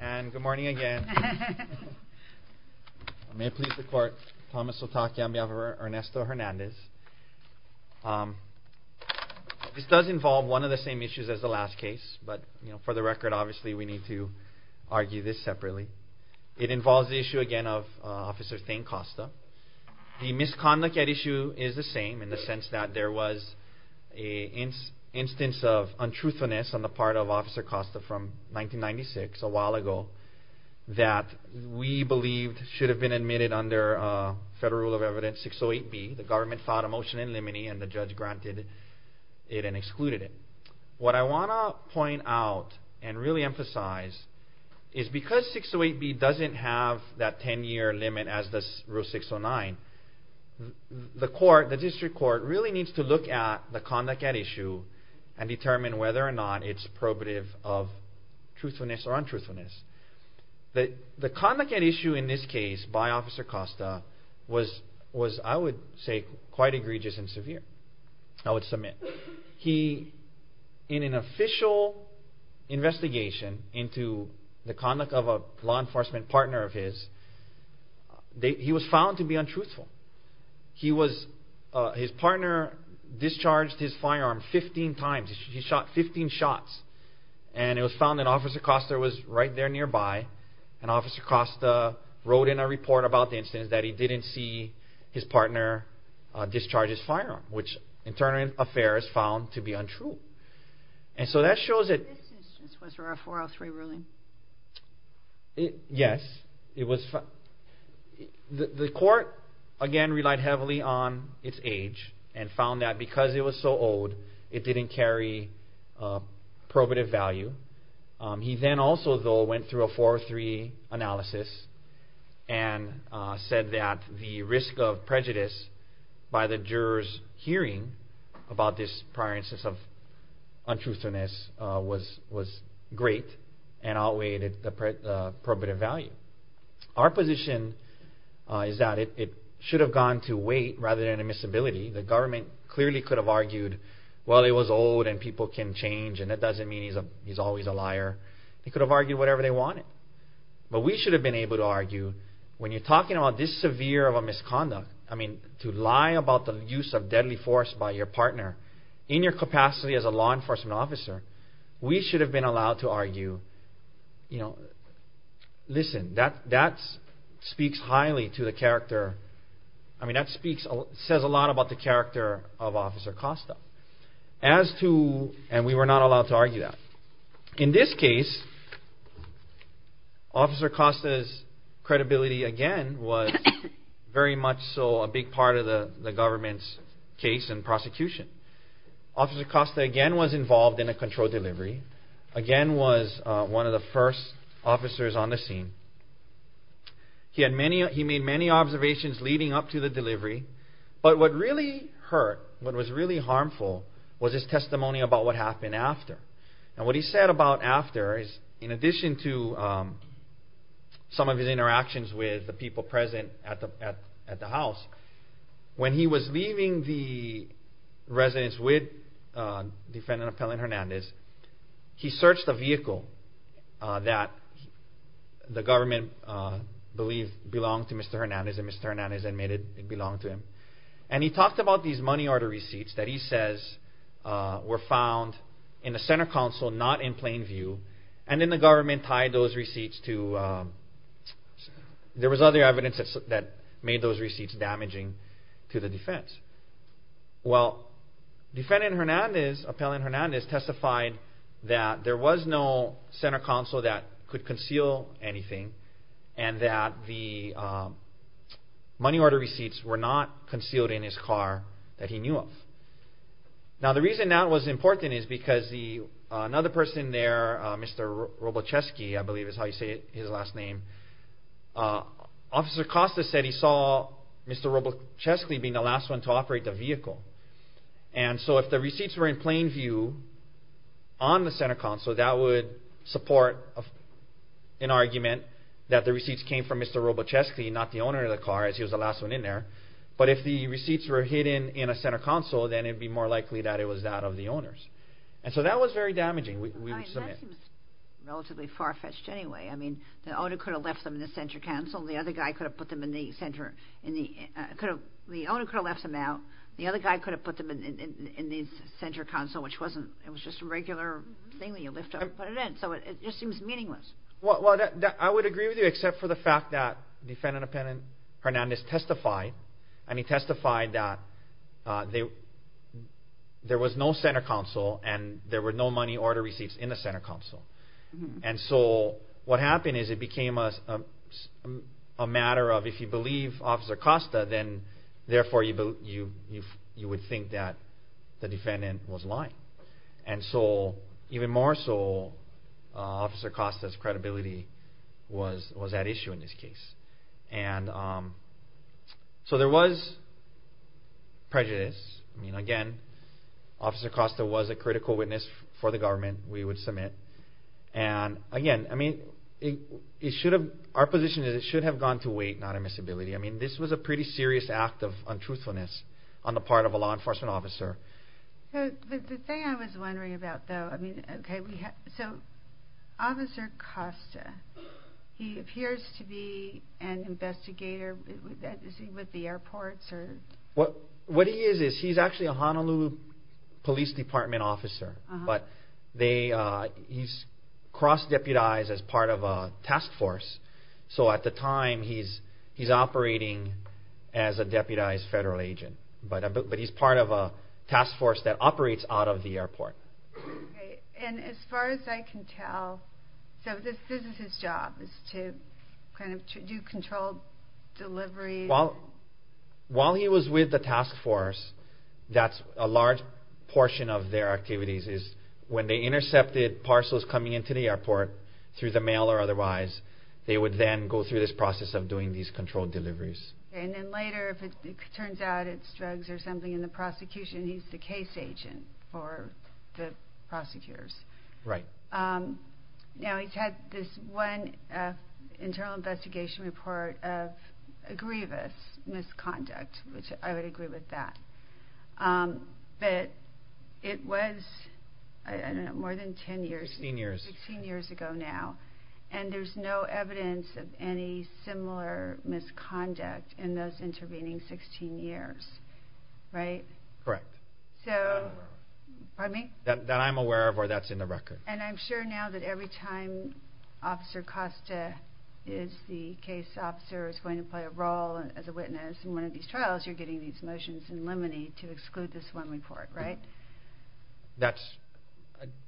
And good morning again. May it please the court, Thomas Sotakia on behalf of Ernesto Hernandez. This does involve one of the same issues as the last case, but for the record obviously we need to argue this separately. It involves the issue again of Officer Thayne Costa. The misconduct at issue is the same in the sense that there was an instance of untruthfulness on the part of Officer Costa from 1996, a while ago, that we believed should have been admitted under Federal Rule of Evidence 608B. The government filed a motion in limine and the judge granted it and excluded it. What I want to point out and really emphasize is because 608B doesn't have that 10-year limit as does Rule 609, the district court really needs to look at the conduct at issue and determine whether or not it's probative of truthfulness or untruthfulness. The conduct at issue in this case by Officer Costa was, I would say, quite egregious and severe, I would submit. In an official investigation into the conduct of a law enforcement partner of his, he was found to be untruthful. His partner discharged his firearm 15 times. He shot 15 shots and it was found that Officer Costa was right there nearby and Officer Costa wrote in a report about the instance that he didn't see his partner discharge his firearm, which in turn affairs found to be untrue. This instance was for a 403 ruling? Yes. The court, again, relied heavily on its age and found that because it was so old it didn't carry probative value. He then also, though, went through a 403 analysis and said that the risk of prejudice by the jurors hearing about this prior instance of untruthfulness was great and outweighed the probative value. Our position is that it should have gone to weight rather than admissibility. The government clearly could have argued, well, it was old and people can change and that doesn't mean he's always a liar. They could have argued whatever they wanted. But we should have been able to argue, when you're talking about this severe of a misconduct, I mean, to lie about the use of deadly force by your partner in your capacity as a law enforcement officer, we should have been allowed to argue, you know, listen, that speaks highly to the character. I mean, that speaks, says a lot about the character of Officer Costa. As to, and we were not allowed to argue that. In this case, Officer Costa's credibility, again, was very much so a big part of the government's case and prosecution. Officer Costa, again, was involved in a control delivery. Again, was one of the first officers on the scene. He made many observations leading up to the delivery. But what really hurt, what was really harmful, was his testimony about what happened after. And what he said about after is, in addition to some of his interactions with the people present at the house, when he was leaving the residence with Defendant Appellant Hernandez, he searched a vehicle that the government believed belonged to Mr. Hernandez, and Mr. Hernandez admitted it belonged to him. And he talked about these money order receipts that he says were found in the center council, not in plain view. And then the government tied those receipts to, there was other evidence that made those receipts damaging to the defense. Well, Defendant Hernandez, Appellant Hernandez, testified that there was no center council that could conceal anything, and that the money order receipts were not concealed in his car that he knew of. Now the reason that was important is because another person there, Mr. Robocheski, I believe is how you say his last name, Officer Costa said he saw Mr. Robocheski being the last one to operate the vehicle. And so if the receipts were in plain view on the center council, that would support an argument that the receipts came from Mr. Robocheski, not the owner of the car, as he was the last one in there. But if the receipts were hidden in a center council, then it would be more likely that it was that of the owner's. And so that was very damaging, we would submit. It seems relatively far-fetched anyway. I mean, the owner could have left them in the center council, the other guy could have put them in the center, the owner could have left them out, the other guy could have put them in the center council, which wasn't, it was just a regular thing that you lift up and put it in. So it just seems meaningless. Well, I would agree with you, except for the fact that Defendant Appellant Hernandez testified, and he testified that there was no center council and there were no money order receipts in the center council. And so what happened is it became a matter of if you believe Officer Costa, then therefore you would think that the defendant was lying. And so even more so, Officer Costa's credibility was at issue in this case. And so there was prejudice. I mean, again, Officer Costa was a critical witness for the government, we would submit. And again, I mean, our position is it should have gone to weight, not admissibility. I mean, this was a pretty serious act of untruthfulness on the part of a law enforcement officer. The thing I was wondering about, though, I mean, okay, so Officer Costa, he appears to be an investigator with the airports? What he is is he's actually a Honolulu Police Department officer, but he's cross-deputized as part of a task force, so at the time he's operating as a deputized federal agent. But he's part of a task force that operates out of the airport. And as far as I can tell, so this is his job, is to kind of do controlled delivery? While he was with the task force, that's a large portion of their activities, is when they intercepted parcels coming into the airport through the mail or otherwise, they would then go through this process of doing these controlled deliveries. And then later, if it turns out it's drugs or something in the prosecution, he's the case agent for the prosecutors. Right. Now, he's had this one internal investigation report of a grievous misconduct, which I would agree with that. But it was, I don't know, more than 10 years? 16 years. 16 years ago now. And there's no evidence of any similar misconduct in those intervening 16 years, right? Correct. That I'm aware of. Pardon me? That I'm aware of or that's in the record. And I'm sure now that every time Officer Costa is the case officer who's going to play a role as a witness in one of these trials, you're getting these motions in limine to exclude this one report, right? That's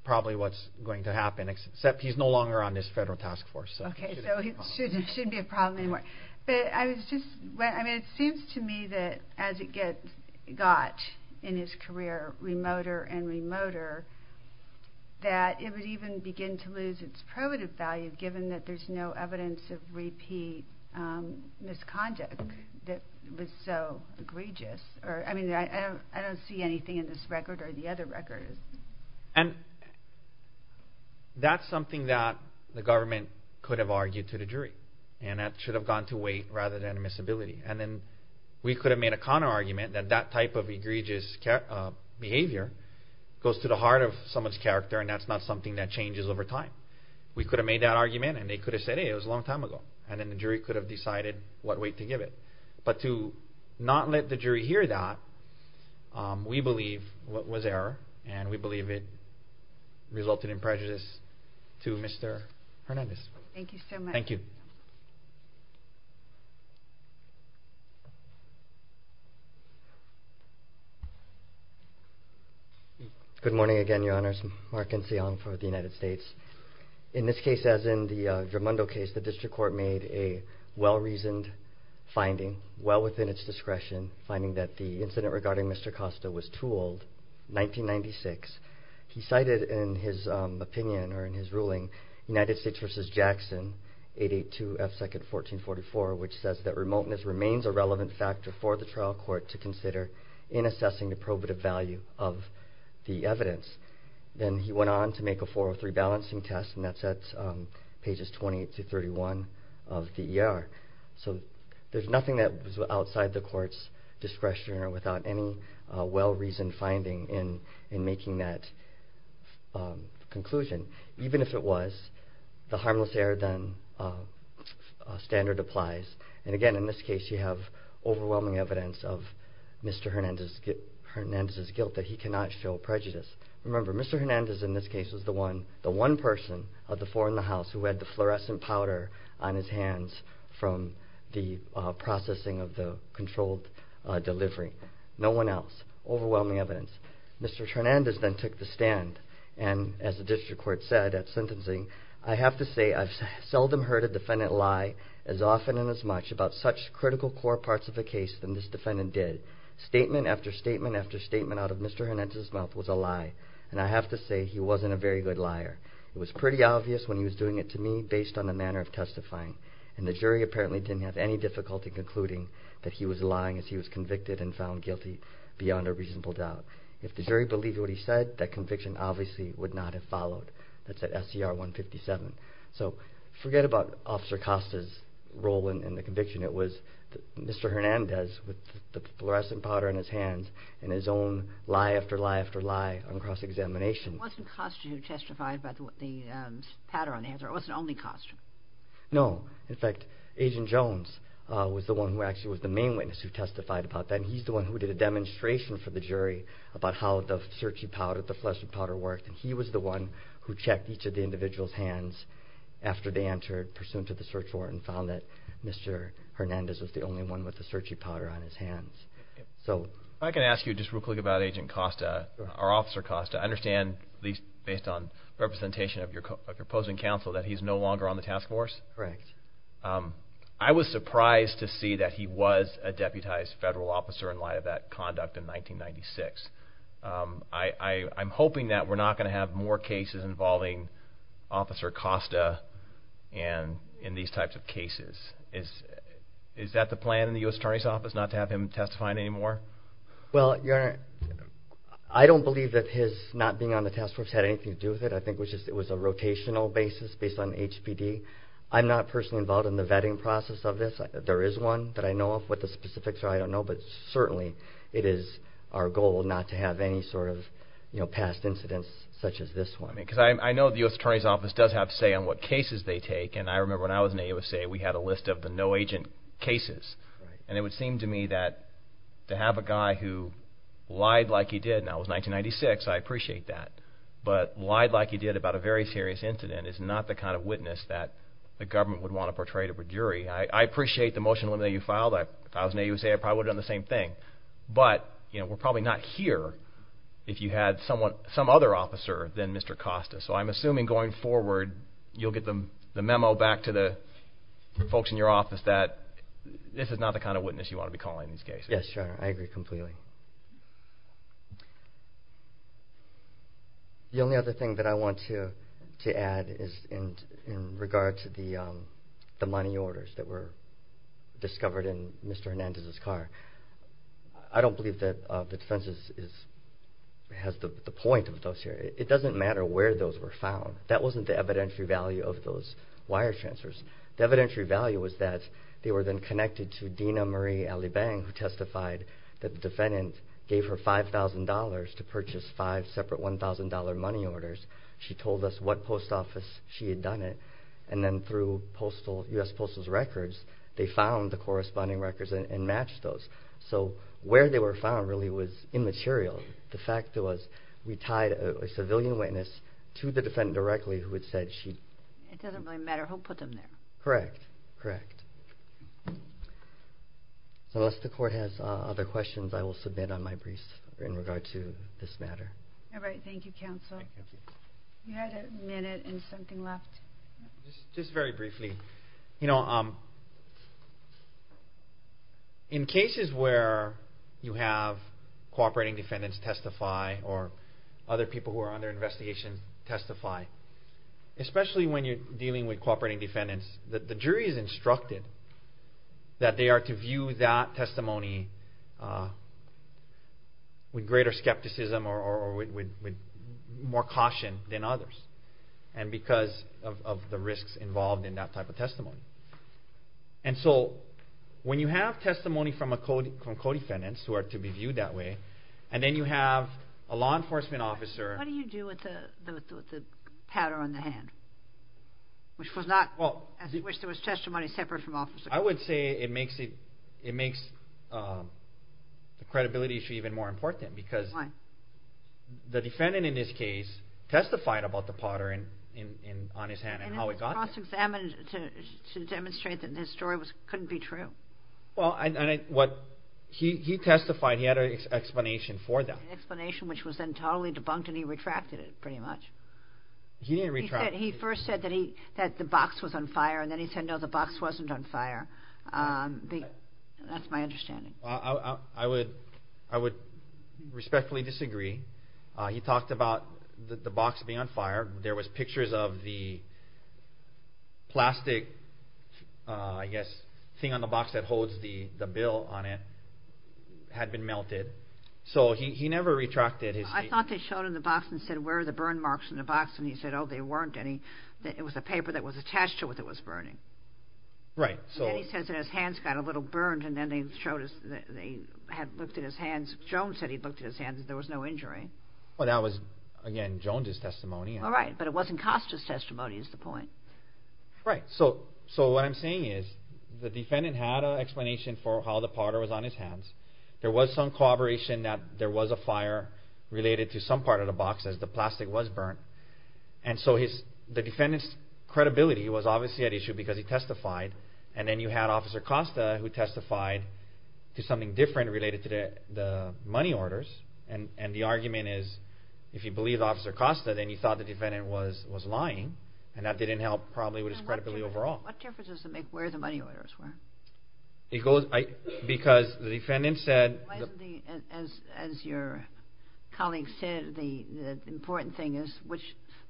probably what's going to happen, except he's no longer on this federal task force. Okay. So it shouldn't be a problem anymore. But I was just, I mean, it seems to me that as it got in his career, remoter and remoter, that it would even begin to lose its primitive value, given that there's no evidence of repeat misconduct that was so egregious. I mean, I don't see anything in this record or the other records. And that's something that the government could have argued to the jury, and that should have gone to weight rather than admissibility. And then we could have made a counterargument that that type of egregious behavior goes to the heart of someone's character and that's not something that changes over time. We could have made that argument and they could have said, hey, it was a long time ago, and then the jury could have decided what weight to give it. But to not let the jury hear that, we believe was error, and we believe it resulted in prejudice to Mr. Hernandez. Thank you so much. Thank you. Good morning again, Your Honors. Mark Nsiang for the United States. In this case, as in the Drumondo case, the district court made a well-reasoned finding, well within its discretion, finding that the incident regarding Mr. Costa was too old, 1996. He cited in his opinion or in his ruling, United States v. Jackson, 882 F. 2nd, 1444, which says that remoteness remains a relevant factor for the trial court to consider in assessing the probative value of the evidence. Then he went on to make a 403 balancing test, and that's at pages 20 to 31 of the ER. So there's nothing that was outside the court's discretion or without any well-reasoned finding in making that conclusion. Even if it was, the harmless error standard applies. And again, in this case, you have overwhelming evidence of Mr. Hernandez's guilt that he cannot show prejudice. Remember, Mr. Hernandez in this case was the one person of the four in the house who had the fluorescent powder on his hands from the processing of the controlled delivery. No one else. Overwhelming evidence. Mr. Hernandez then took the stand, and as the district court said at sentencing, I have to say I've seldom heard a defendant lie as often and as much about such critical core parts of the case than this defendant did. Statement after statement after statement out of Mr. Hernandez's mouth was a lie, and I have to say he wasn't a very good liar. It was pretty obvious when he was doing it to me based on the manner of testifying, and the jury apparently didn't have any difficulty concluding that he was lying as he was convicted and found guilty beyond a reasonable doubt. If the jury believed what he said, that conviction obviously would not have followed. That's at SCR 157. So forget about Officer Costa's role in the conviction. It was Mr. Hernandez with the fluorescent powder on his hands and his own lie after lie after lie on cross-examination. It wasn't Costa who testified about the powder on his hands, or it wasn't only Costa. No. In fact, Agent Jones was the one who actually was the main witness who testified about that, and he's the one who did a demonstration for the jury about how the search powder, the fluorescent powder worked, and he was the one who checked each of the individual's hands after they entered, pursuant to the search warrant, and found that Mr. Hernandez was the only one with the searchie powder on his hands. If I can ask you just real quick about Agent Costa, or Officer Costa. I understand, at least based on representation of your opposing counsel, that he's no longer on the task force. Correct. I was surprised to see that he was a deputized federal officer in light of that conduct in 1996. I'm hoping that we're not going to have more cases involving Officer Costa in these types of cases. Is that the plan in the U.S. Attorney's Office, not to have him testify anymore? Well, Your Honor, I don't believe that his not being on the task force had anything to do with it. I think it was a rotational basis based on HPD. I'm not personally involved in the vetting process of this. There is one that I know of. What the specifics are, I don't know, but certainly it is our goal not to have any sort of past incidents such as this one. Because I know the U.S. Attorney's Office does have a say on what cases they take, and I remember when I was in the U.S.A., we had a list of the no-agent cases. And it would seem to me that to have a guy who lied like he did, and that was 1996, I appreciate that, but lied like he did about a very serious incident is not the kind of witness that the government would want to portray to a jury. I appreciate the motion that you filed. If I was in the U.S.A., I probably would have done the same thing. But we're probably not here if you had some other officer than Mr. Costa. So I'm assuming going forward you'll get the memo back to the folks in your office that this is not the kind of witness you want to be calling in these cases. Yes, Your Honor, I agree completely. The only other thing that I want to add is in regard to the money orders that were discovered in Mr. Hernandez's car. I don't believe that the defense has the point of those here. It doesn't matter where those were found. That wasn't the evidentiary value of those wire transfers. The evidentiary value was that they were then connected to Dena Marie Alibang, who testified that the defendant gave her $5,000 to purchase five separate $1,000 money orders. She told us what post office she had done it, and then through U.S. Postal Service records, they found the corresponding records and matched those. So where they were found really was immaterial. The fact was we tied a civilian witness to the defendant directly who had said she... It doesn't really matter who put them there. Correct, correct. So unless the court has other questions, I will submit on my briefs in regard to this matter. All right, thank you, counsel. You had a minute and something left. Just very briefly. You know, in cases where you have cooperating defendants testify or other people who are under investigation testify, especially when you're dealing with cooperating defendants, the jury is instructed that they are to view that testimony with greater skepticism or with more caution than others because of the risks involved in that type of testimony. And so when you have testimony from co-defendants who are to be viewed that way, and then you have a law enforcement officer... What do you do with the powder on the hand? Which was not as if there was testimony separate from officers. I would say it makes the credibility issue even more important because the defendant in this case testified about the powder on his hand and how it got there. And it was cross-examined to demonstrate that this story couldn't be true. Well, he testified, he had an explanation for that. An explanation which was then totally debunked and he retracted it pretty much. He didn't retract it. He first said that the box was on fire and then he said, no, the box wasn't on fire. That's my understanding. I would respectfully disagree. He talked about the box being on fire. There was pictures of the plastic, I guess, thing on the box that holds the bill on it had been melted. So he never retracted his statement. I thought they showed him the box and said, where are the burn marks in the box? And he said, oh, there weren't any. It was a paper that was attached to it that was burning. Right. And then he says that his hands got a little burned and then they had looked at his hands. Jones said he looked at his hands and there was no injury. Well, that was, again, Jones's testimony. All right, but it wasn't Costa's testimony is the point. Right. There was some corroboration that there was a fire related to some part of the box as the plastic was burnt. And so the defendant's credibility was obviously at issue because he testified. And then you had Officer Costa who testified to something different related to the money orders. And the argument is if you believe Officer Costa, then you thought the defendant was lying. And that didn't help probably with his credibility overall. What difference does it make where the money orders were? Because the defendant said. As your colleague said, the important thing is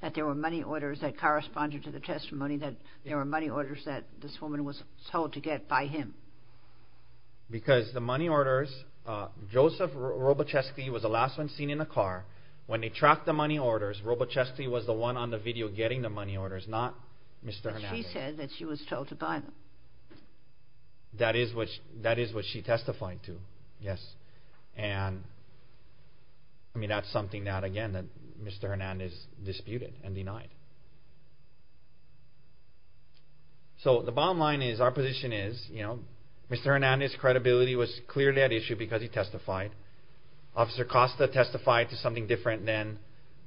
that there were money orders that corresponded to the testimony, that there were money orders that this woman was told to get by him. Because the money orders, Joseph Robucheski was the last one seen in the car. When they tracked the money orders, Robucheski was the one on the video getting the money orders, not Mr. Hernandez. But she said that she was told to buy them. That is what she testified to, yes. And that's something that, again, Mr. Hernandez disputed and denied. So the bottom line is our position is Mr. Hernandez's credibility was clearly at issue because he testified. Officer Costa testified to something different than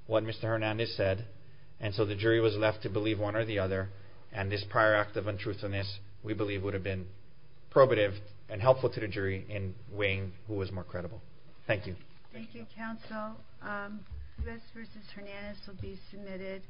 what Mr. Hernandez said. And so the jury was left to believe one or the other. And this prior act of untruthfulness, we believe, would have been probative and helpful to the jury in weighing who was more credible. Thank you. Thank you, counsel. U.S. v. Hernandez will be submitted.